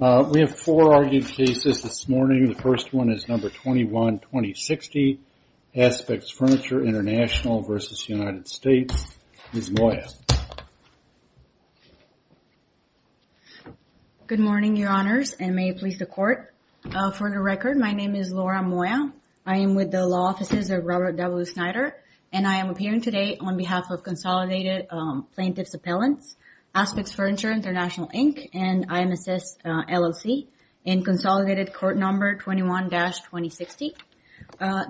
We have four argued cases this morning. The first one is number 21-2060, Aspects Furniture International v. United States. Ms. Moya. Good morning, your honors, and may it please the court. For the record, my name is Laura Moya. I am with the law offices of Robert W. Snyder, and I am appearing today on behalf of Consolidated Plaintiff's Appellants, Aspects Furniture International, Inc., and IMSS LLC in Consolidated Court Number 21-2060.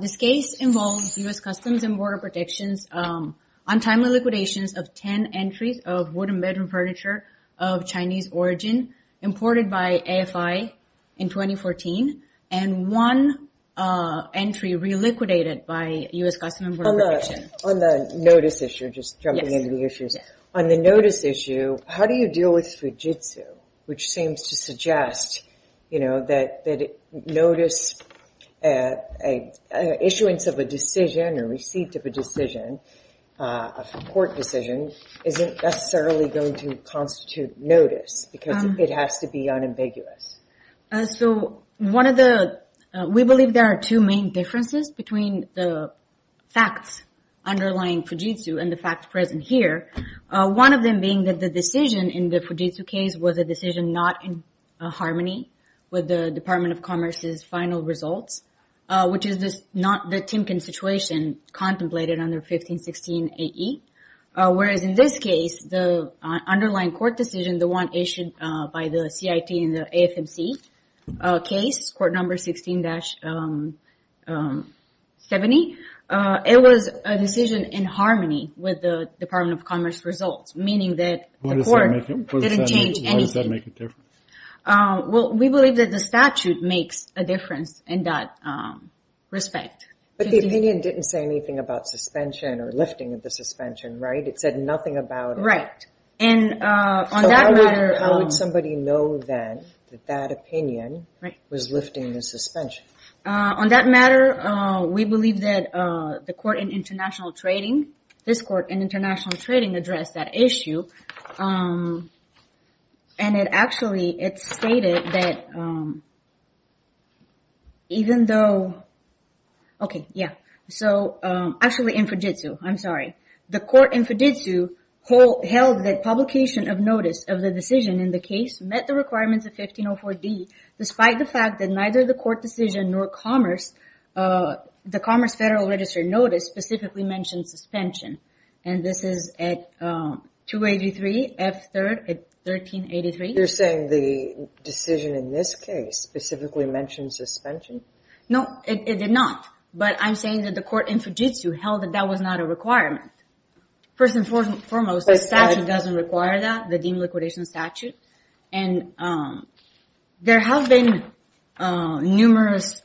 This case involves U.S. Customs and Border Protection's untimely liquidations of 10 entries of wooden bedroom furniture of Chinese origin imported by AFI in 2014, and one entry re-liquidated by U.S. Customs and Border Protection. On the notice issue, just jumping into the issues, on the notice issue, how do you deal with Fujitsu, which seems to suggest, you know, that notice, an issuance of a decision or receipt of a decision, a court decision, isn't necessarily going to constitute notice because it has to be unambiguous. So one of the, we believe there are two main differences between the facts underlying Fujitsu and the facts present here, one of them being that the decision in the Fujitsu case was a decision not in harmony with the Department of Commerce's final results, which is not the Timken situation contemplated under 1516 AE, whereas in this case, the underlying court decision, the one issued by the CIT in the AFMC case, Court Number 16-70, it was a decision in harmony with the Department of Commerce results, meaning that the court didn't change anything. Why does that make a difference? Well, we believe that the statute makes a difference in that respect. But the opinion didn't say anything about suspension or lifting of the suspension, right? It said nothing about it. Right, and on that matter- So how would somebody know then that that opinion was lifting the suspension? On that matter, we believe that the court in international trading, this court in international trading addressed that issue. And it actually, it stated that even though, okay, yeah. So actually in Fujitsu, I'm sorry. The court in Fujitsu held that publication of notice of the decision in the case met the requirements of 1504D despite the fact that neither the court decision nor Commerce, the Commerce Federal Register notice specifically mentioned suspension. And this is at 283 F3rd at 1383. You're saying the decision in this case specifically mentioned suspension? No, it did not. But I'm saying that the court in Fujitsu held that that was not a requirement. First and foremost, the statute doesn't require that, the deemed liquidation statute. And there have been numerous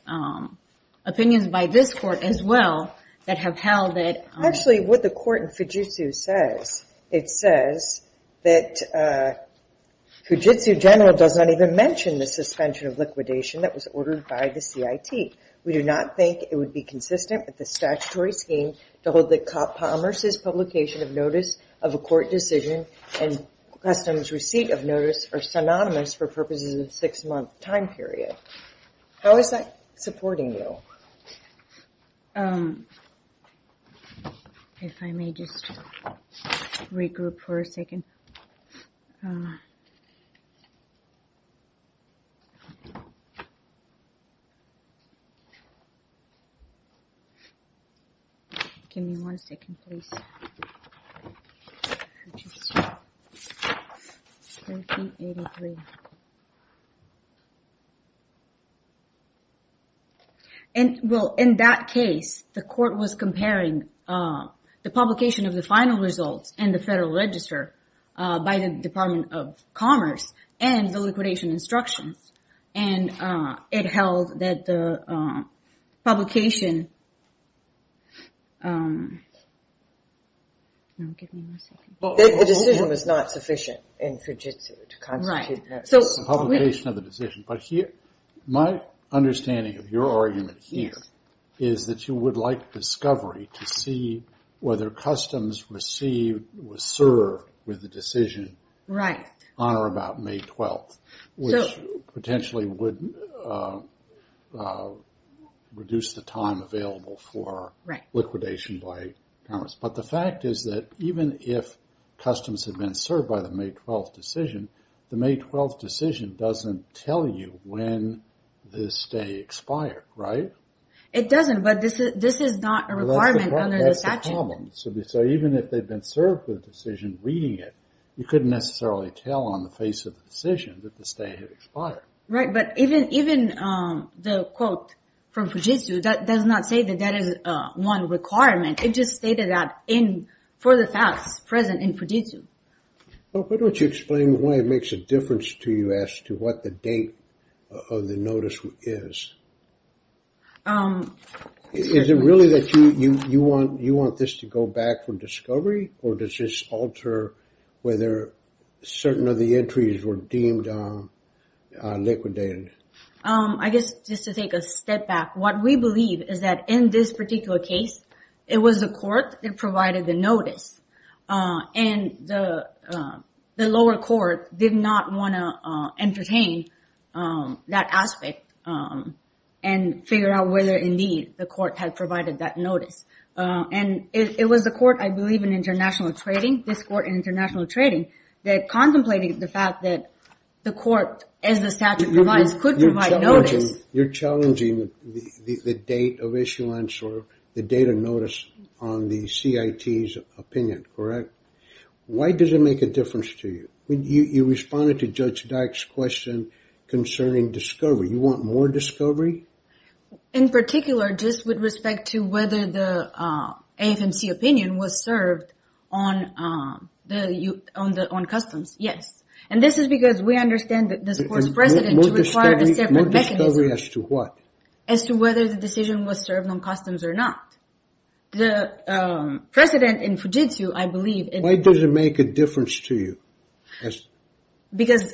opinions by this court as well that have held that- Actually, what the court in Fujitsu says, it says that Fujitsu general does not even mention the suspension of liquidation that was ordered by the CIT. We do not think it would be consistent with the statutory scheme to hold that Commerce's publication of notice of a court decision and customs receipt of notice are synonymous for purposes of six month time period. How is that supporting you? If I may just regroup for a second. Give me one second, please. Fujitsu, 1383. And well, in that case, the court was comparing the publication of the final results and the federal register by the Department of Commerce and the liquidation instructions. And it held that the publication... No, give me one second. The decision was not sufficient in Fujitsu to constitute that. So the publication of the decision, but my understanding of your argument here is that you would like discovery to see whether customs received was served with the decision on or about May 12th, which potentially would reduce the time available for liquidation by Commerce. But the fact is that even if customs had been served by the May 12th decision, the May 12th decision doesn't tell you when the stay expired, right? It doesn't, but this is not a requirement under the statute. That's the problem. So even if they've been served the decision reading it, you couldn't necessarily tell on the face of the decision that the stay had expired. Right, but even the quote from Fujitsu that does not say that that is one requirement. It just stated that in for the facts present in Fujitsu. Well, why don't you explain why it makes a difference to you as to what the date of the notice is. Is it really that you want this to go back for discovery or does this alter whether certain of the entries were deemed liquidated? I guess just to take a step back, what we believe is that in this particular case, it was the court that provided the notice. And the lower court did not wanna entertain that aspect and figure out whether indeed the court had provided that notice. And it was the court, I believe in international trading, this court in international trading that contemplated the fact that the court You're challenging the date of issuance or the date of notice on the CIT's opinion, correct? Why does it make a difference to you? When you responded to Judge Dyck's question concerning discovery, you want more discovery? In particular, just with respect to whether the AFMC opinion was served on customs, yes. And this is because we understand that this court's precedent to require a separate mechanism. More discovery as to what? As to whether the decision was served on customs or not. The precedent in Fujitsu, I believe Why does it make a difference to you? Because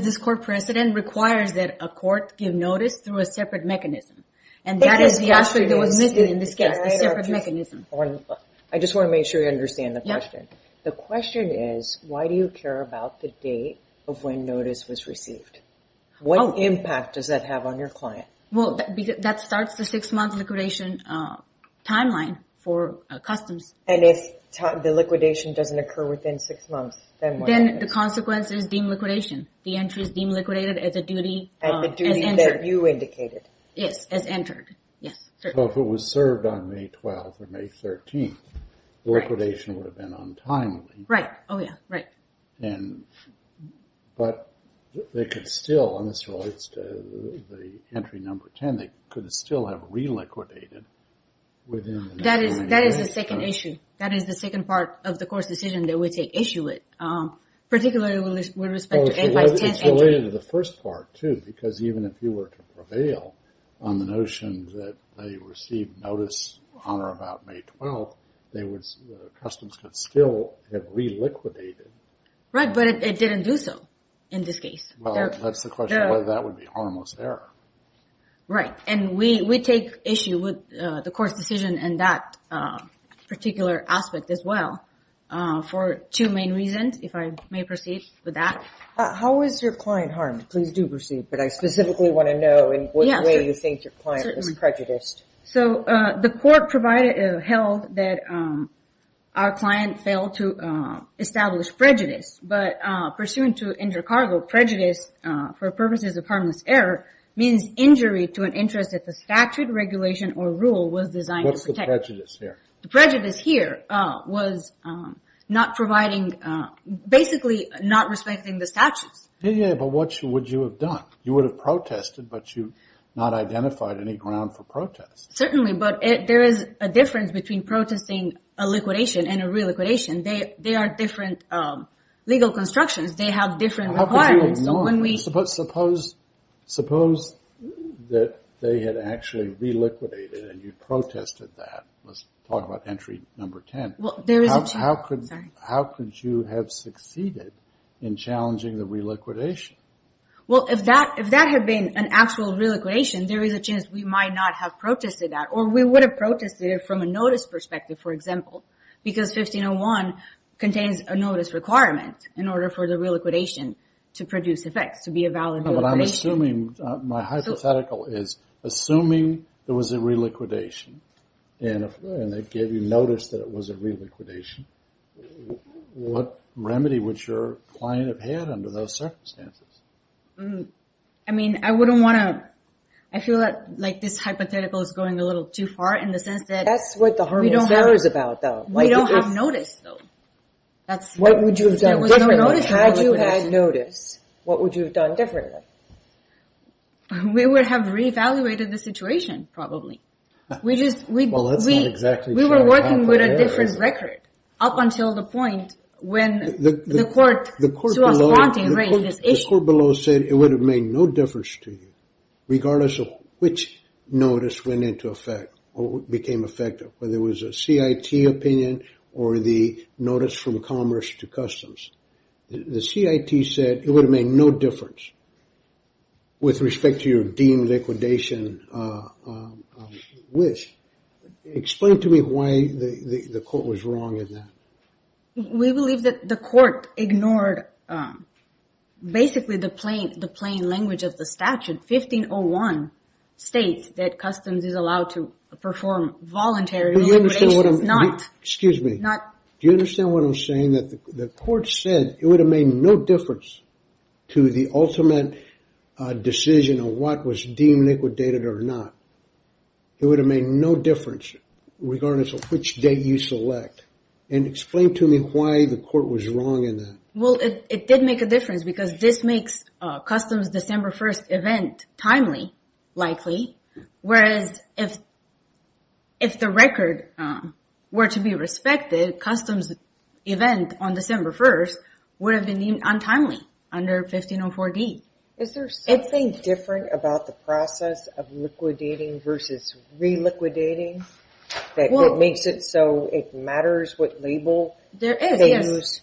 this court precedent requires that a court give notice through a separate mechanism. And that is the aspect that was missing in this case, the separate mechanism. I just wanna make sure you understand the question. The question is, why do you care about the date of when notice was received? What impact does that have on your client? Well, that starts the six month liquidation timeline for customs. And if the liquidation doesn't occur within six months, then what happens? Then the consequence is deemed liquidation. The entry is deemed liquidated as a duty And the duty that you indicated. Yes, as entered, yes. So if it was served on May 12th or May 13th, liquidation would have been untimely. Right, oh yeah, right. And, but they could still, and this relates to the entry number 10, they could still have re-liquidated within That is the second issue. That is the second part of the court's decision that we take issue with. Particularly with respect to It's related to the first part too. Because even if you were to prevail on the notion that they received notice on or about May 12th, customs could still have re-liquidated. Right, but it didn't do so in this case. Well, that's the question, whether that would be harmless error. Right, and we take issue with the court's decision and that particular aspect as well. For two main reasons, if I may proceed with that. How was your client harmed? Please do proceed, but I specifically want to know in which way you think your client was prejudiced. So, the court provided, held, that our client failed to establish prejudice. But pursuant to Intercargo, prejudice for purposes of harmless error means injury to an interest that the statute, regulation, or rule was designed to protect. What's the prejudice here? The prejudice here was not providing, basically not respecting the statutes. Yeah, yeah, but what would you have done? You would have protested, but you not identified any ground for protest. Certainly, but there is a difference between protesting a liquidation and a re-liquidation. They are different legal constructions. They have different requirements. How could you ignore that? Suppose that they had actually re-liquidated and you protested that. Let's talk about entry number 10. Well, there is a two, sorry. How could you have succeeded in challenging the re-liquidation? Well, if that had been an actual re-liquidation, there is a chance we might not have protested that, or we would have protested it from a notice perspective, for example, because 1501 contains a notice requirement in order for the re-liquidation to produce effects, to be a valid re-liquidation. But I'm assuming, my hypothetical is, assuming there was a re-liquidation, and they gave you notice that it was a re-liquidation, what remedy would your client have had under those circumstances? I mean, I wouldn't wanna, I feel like this hypothetical is going a little too far in the sense that we don't have notice, though. What would you have done differently? Had you had notice, what would you have done differently? We would have re-evaluated the situation, probably. Well, that's not exactly true. We were working with a different record up until the point when the court was wanting to raise this issue. The court below said it would have made no difference to you regardless of which notice went into effect or became effective, whether it was a CIT opinion or the notice from Commerce to Customs. The CIT said it would have made no difference with respect to your deemed liquidation wish. Explain to me why the court was wrong in that. We believe that the court ignored basically the plain language of the statute, 1501 states that Customs is allowed to perform voluntary liquidation, it's not. Excuse me. Do you understand what I'm saying? That the court said it would have made no difference to the ultimate decision of what was deemed liquidated or not. It would have made no difference regardless of which date you select. And explain to me why the court was wrong in that. Well, it did make a difference because this makes Customs December 1st event timely, likely, whereas if the record were to be respected, Customs event on December 1st would have been deemed untimely under 1504D. Is there something different about the process of liquidating versus reliquidating that makes it so it matters what label? There is, yes.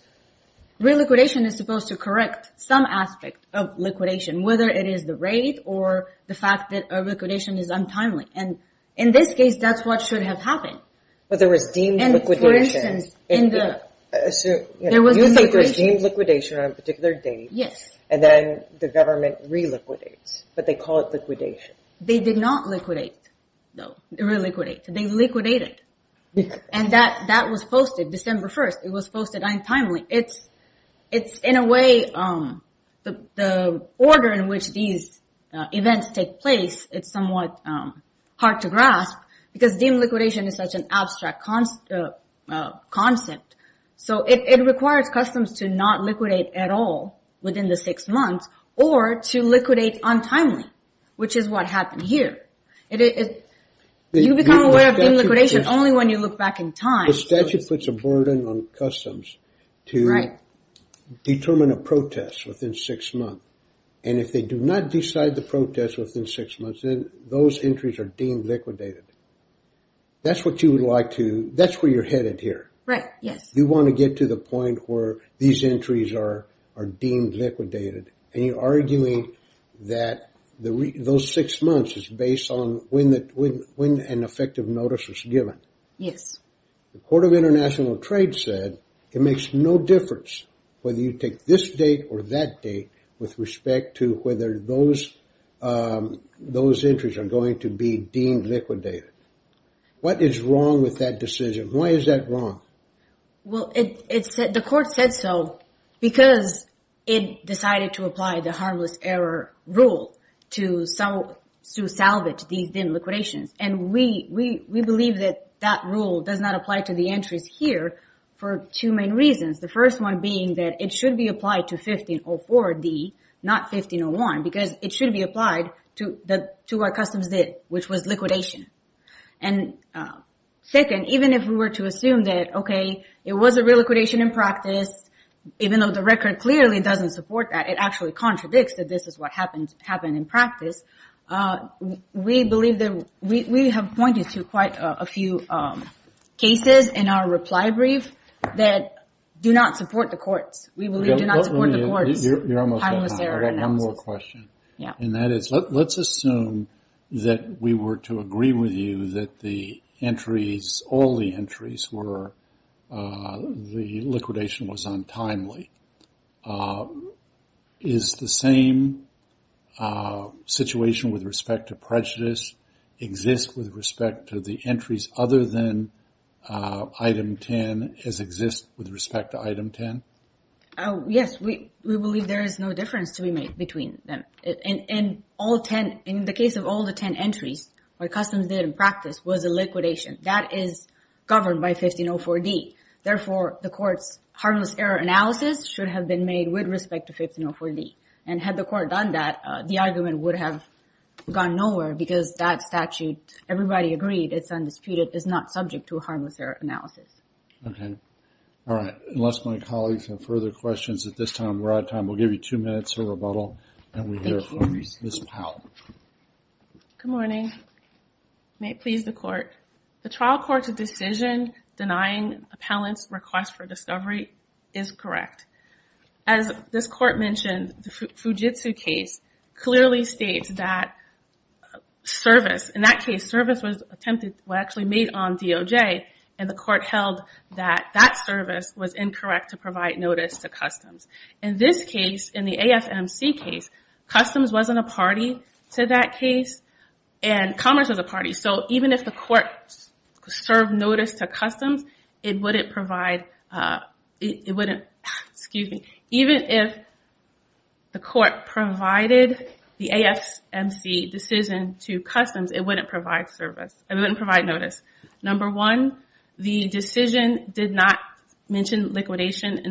Reliquidation is supposed to correct some aspect of liquidation, whether it is the rate or the fact that a liquidation is untimely. And in this case, that's what should have happened. But there was deemed liquidation. And for instance, in the, there was a liquidation. You think there's deemed liquidation on a particular date. Yes. And then the government reliquidates, but they call it liquidation. They did not liquidate, no, reliquidate. They liquidated. And that was posted December 1st. It was posted untimely. It's in a way, the order in which these events take place, it's somewhat hard to grasp because deemed liquidation is such an abstract concept. So it requires Customs to not liquidate at all within the six months or to liquidate untimely, which is what happened here. You become aware of deemed liquidation only when you look back in time. The statute puts a burden on Customs to determine a protest within six months. And if they do not decide the protest within six months, then those entries are deemed liquidated. That's what you would like to, that's where you're headed here. Right, yes. You want to get to the point where these entries are deemed liquidated. And you're arguing that those six months is based on when an effective notice was given. Yes. The Court of International Trade said it makes no difference whether you take this date or that date with respect to whether those entries are going to be deemed liquidated. What is wrong with that decision? Why is that wrong? Well, the court said so because it decided to apply the harmless error rule to salvage these deemed liquidations. And we believe that that rule does not apply to the entries here for two main reasons. The first one being that it should be applied to 1504D, not 1501, because it should be applied to our Customs date, which was liquidation. And second, even if we were to assume that, okay, it was a re-liquidation in practice, even though the record clearly doesn't support that, it actually contradicts that this is what happened in practice, we believe that, we have pointed to quite a few cases in our reply brief that do not support the courts. We believe do not support the courts. You're almost there. I have one more question. Yeah. And that is, let's assume that we were to agree with you that the entries, all the entries were, the liquidation was untimely. Is the same situation with respect to prejudice exist with respect to the entries other than item 10 as exist with respect to item 10? Yes, we believe there is no difference to be made between them. In all 10, in the case of all the 10 entries, what Customs did in practice was a liquidation that is governed by 1504D. Therefore, the court's harmless error analysis should have been made with respect to 1504D. And had the court done that, the argument would have gone nowhere because that statute, everybody agreed it's undisputed, is not subject to a harmless error analysis. Okay. All right. Unless my colleagues have further questions at this time, we're out of time. We'll give you two minutes of rebuttal and we hear from Ms. Powell. Good morning. May it please the court. The trial court's decision denying appellant's request for discovery is correct. As this court mentioned, the Fujitsu case clearly states that service, in that case, service was attempted, was actually made on DOJ, and the court held that that service was incorrect to provide notice to Customs. In this case, in the AFMC case, Customs wasn't a party to that case, and Commerce was a party, so even if the court served notice to Customs, it wouldn't provide, it wouldn't, excuse me, even if the court provided the AFMC decision to Customs, it wouldn't provide service, it wouldn't provide notice. Number one, the decision did not mention liquidation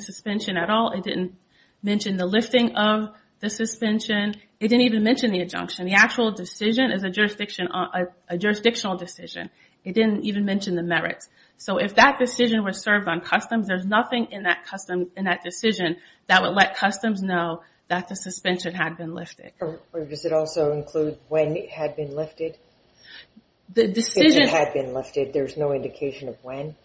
suspension at all. It didn't mention the lifting of the suspension. It didn't even mention the injunction. The actual decision is a jurisdictional decision. It didn't even mention the merits. So if that decision was served on Customs, there's nothing in that decision that would let Customs know that the suspension had been lifted. Or does it also include when it had been lifted? The decision. If it had been lifted, there's no indication of when?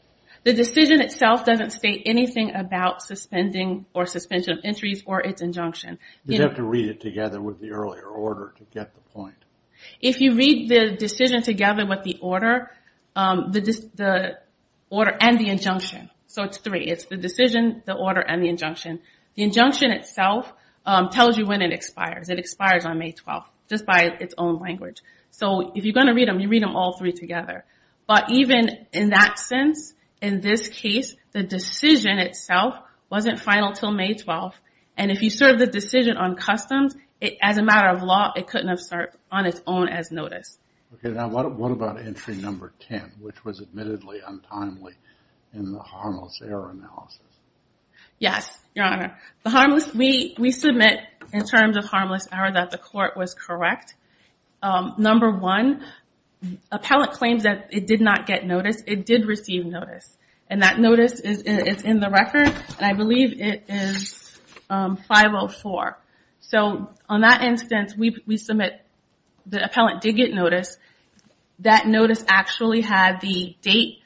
The decision itself doesn't state anything about suspending or suspension of entries or its injunction. You'd have to read it together with the earlier order to get the point. If you read the decision together with the order, the order and the injunction, so it's three. It's the decision, the order, and the injunction. The injunction itself tells you when it expires. It expires on May 12th, just by its own language. So if you're gonna read them, you read them all three together. But even in that sense, in this case, the decision itself wasn't final till May 12th, and if you serve the decision on Customs, as a matter of law, it couldn't have served on its own as notice. Okay, now what about entry number 10, which was admittedly untimely in the harmless error analysis? Yes, Your Honor. The harmless, we submit in terms of harmless error that the court was correct. Number one, appellate claims that it did not get notice. It did receive notice, and that notice is in the record, and I believe it is 504. So on that instance, we submit the appellant did get notice. That notice actually had the date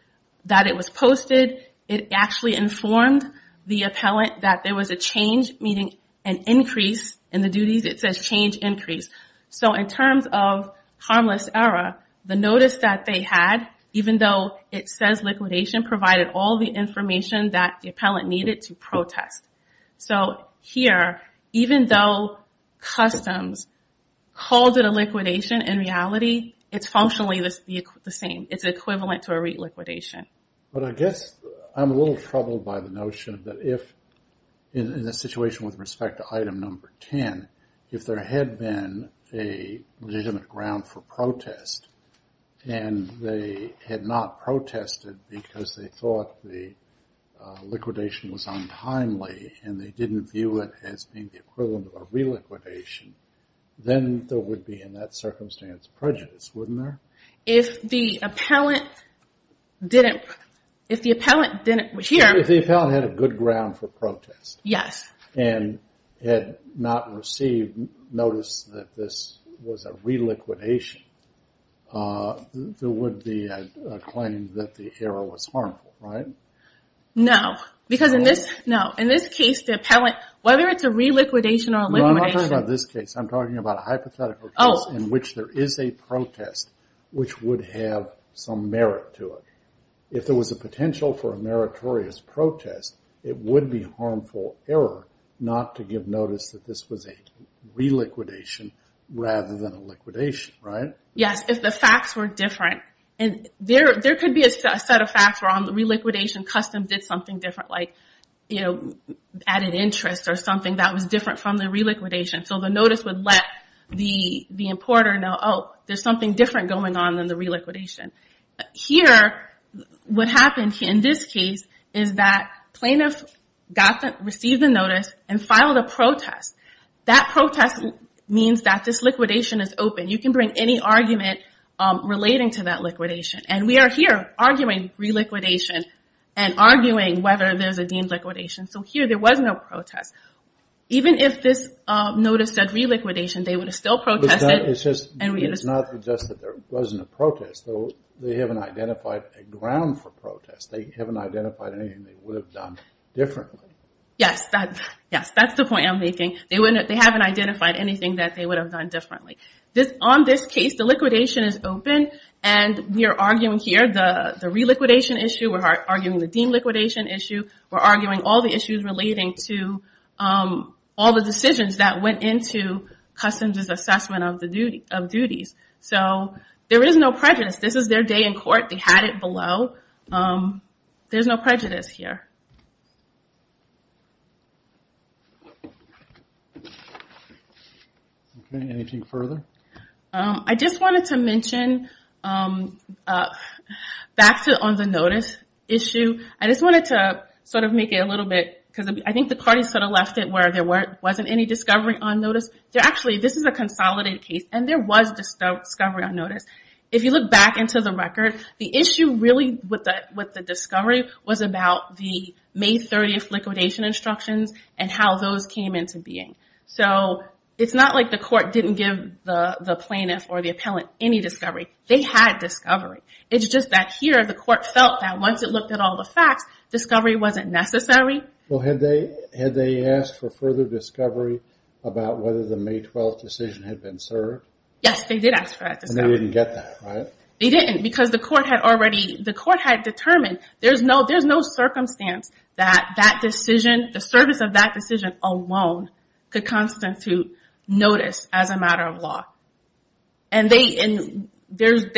that it was posted. It actually informed the appellant that there was a change, meaning an increase in the duties. It says change, increase. So in terms of harmless error, the notice that they had, even though it says liquidation, provided all the information that the appellant needed to protest. So here, even though Customs called it a liquidation, in reality, it's functionally the same. It's equivalent to a re-liquidation. But I guess I'm a little troubled by the notion that if, in the situation with respect to item number 10, if there had been a legitimate ground for protest, and they had not protested because they thought the liquidation was untimely, and they didn't view it as being the equivalent of a re-liquidation, then there would be, in that circumstance, prejudice, wouldn't there? If the appellant didn't, if the appellant didn't hear. If the appellant had a good ground for protest. Yes. And had not received notice that this was a re-liquidation, there would be a claim that the error was harmful, right? No, because in this, no, in this case, the appellant, whether it's a re-liquidation or a liquidation. No, I'm not talking about this case. I'm talking about a hypothetical case in which there is a protest, which would have some merit to it. If there was a potential for a meritorious protest, it would be harmful error not to give notice that this was a re-liquidation rather than a liquidation, right? Yes, if the facts were different. And there could be a set of facts where on the re-liquidation, custom did something different, like added interest or something that was different from the re-liquidation. So the notice would let the importer know, oh, there's something different going on than the re-liquidation. Here, what happened in this case is that plaintiff received a notice and filed a protest. That protest means that this liquidation is open. You can bring any argument relating to that liquidation. And we are here arguing re-liquidation and arguing whether there's a deemed liquidation. So here, there was no protest. Even if this notice said re-liquidation, they would have still protested. It's not just that there wasn't a protest, though they haven't identified a ground for protest. They haven't identified anything they would have done differently. Yes, that's the point I'm making. They haven't identified anything that they would have done differently. On this case, the liquidation is open, and we are arguing here the re-liquidation issue. We're arguing the deemed liquidation issue. We're arguing all the issues relating to all the decisions that went into Customs' assessment of duties. So there is no prejudice. This is their day in court. They had it below. There's no prejudice here. Thank you. Anything further? I just wanted to mention, back to on the notice issue, I just wanted to sort of make it a little bit, because I think the parties sort of left it where there wasn't any discovery on notice. Actually, this is a consolidated case, and there was discovery on notice. If you look back into the record, the issue really with the discovery was about the May 30th liquidation instructions and how those came into being. So it's not like the court didn't give the plaintiff or the appellant any discovery. They had discovery. It's just that here, the court felt that once it looked at all the facts, discovery wasn't necessary. Well, had they asked for further discovery about whether the May 12th decision had been served? Yes, they did ask for that discovery. And they didn't get that, right? They didn't, because the court had already, the court had determined there's no circumstance that that decision, the service of that decision alone could constitute notice as a matter of law. And they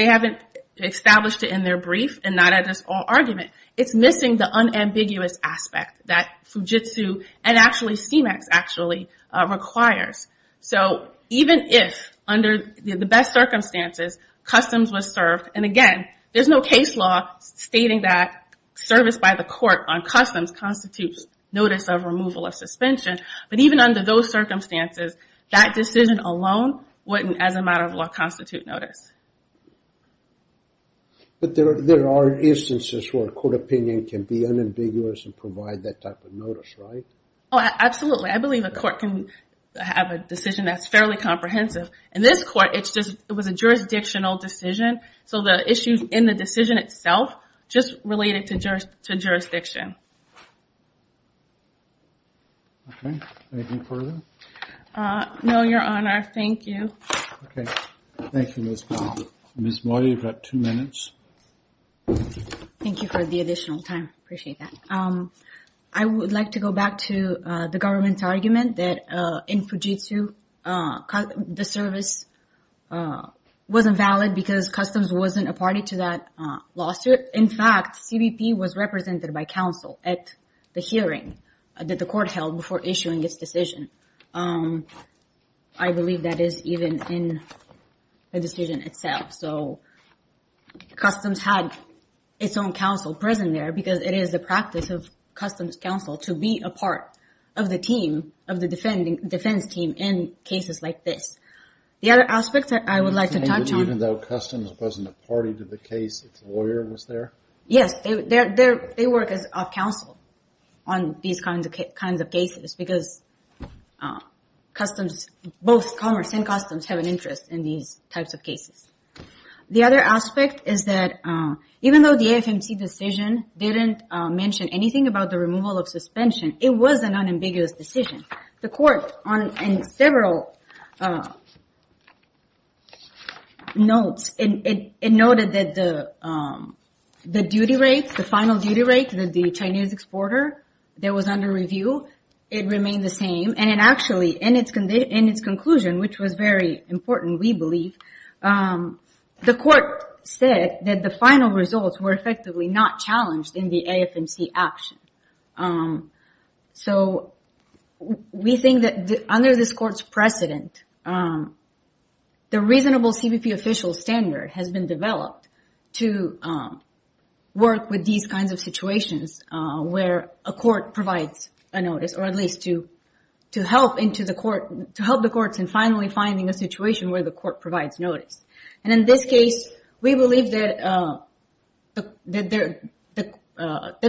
haven't established it in their brief and not at this whole argument. It's missing the unambiguous aspect that Fujitsu and actually CMEX actually requires. So even if, under the best circumstances, customs was served, and again, there's no case law stating that service by the court on customs constitutes notice of removal or suspension. But even under those circumstances, that decision alone wouldn't, as a matter of law, constitute notice. But there are instances where court opinion can be unambiguous and provide that type of notice, right? Oh, absolutely. I believe a court can have a decision that's fairly comprehensive. In this court, it was a jurisdictional decision. So the issues in the decision itself just related to jurisdiction. Okay, anything further? No, Your Honor, thank you. Okay, thank you, Ms. Molly. Ms. Molly, you've got two minutes. Thank you for the additional time, appreciate that. I would like to go back to the government's argument that in Fujitsu, the service wasn't valid because customs wasn't a party to that lawsuit. In fact, CBP was represented by counsel at the hearing that the court held before issuing its decision. I believe that is even in the decision itself. So customs had its own counsel present there because it is the practice of customs counsel to be a part of the team, of the defense team in cases like this. The other aspect that I would like to touch on. Even though customs wasn't a party to the case, its lawyer was there? Yes, they work as a counsel on these kinds of cases because customs, both commerce and customs have an interest in these types of cases. The other aspect is that even though the AFMC decision didn't mention anything about the removal of suspension, it was an unambiguous decision. The court in several notes, it noted that the duty rate, the final duty rate that the Chinese exporter that was under review, it remained the same. And it actually, in its conclusion, which was very important, we believe, the court said that the final results were effectively not challenged in the AFMC action. So we think that under this court's precedent, the reasonable CBP official standard has been developed to work with these kinds of situations where a court provides a notice, or at least to help the courts in finally finding a situation where the court provides notice. And in this case, we believe that the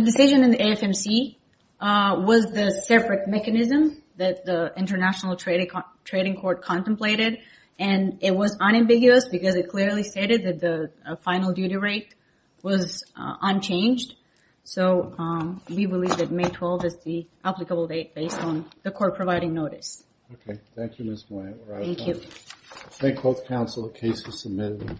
decision in the AFMC was the separate mechanism that the International Trading Court contemplated. And it was unambiguous because it clearly stated that the final duty rate was unchanged. So we believe that May 12th is the applicable date based on the court providing notice. Okay, thank you, Ms. Moya. Thank you. May 12th, counsel, case is submitted.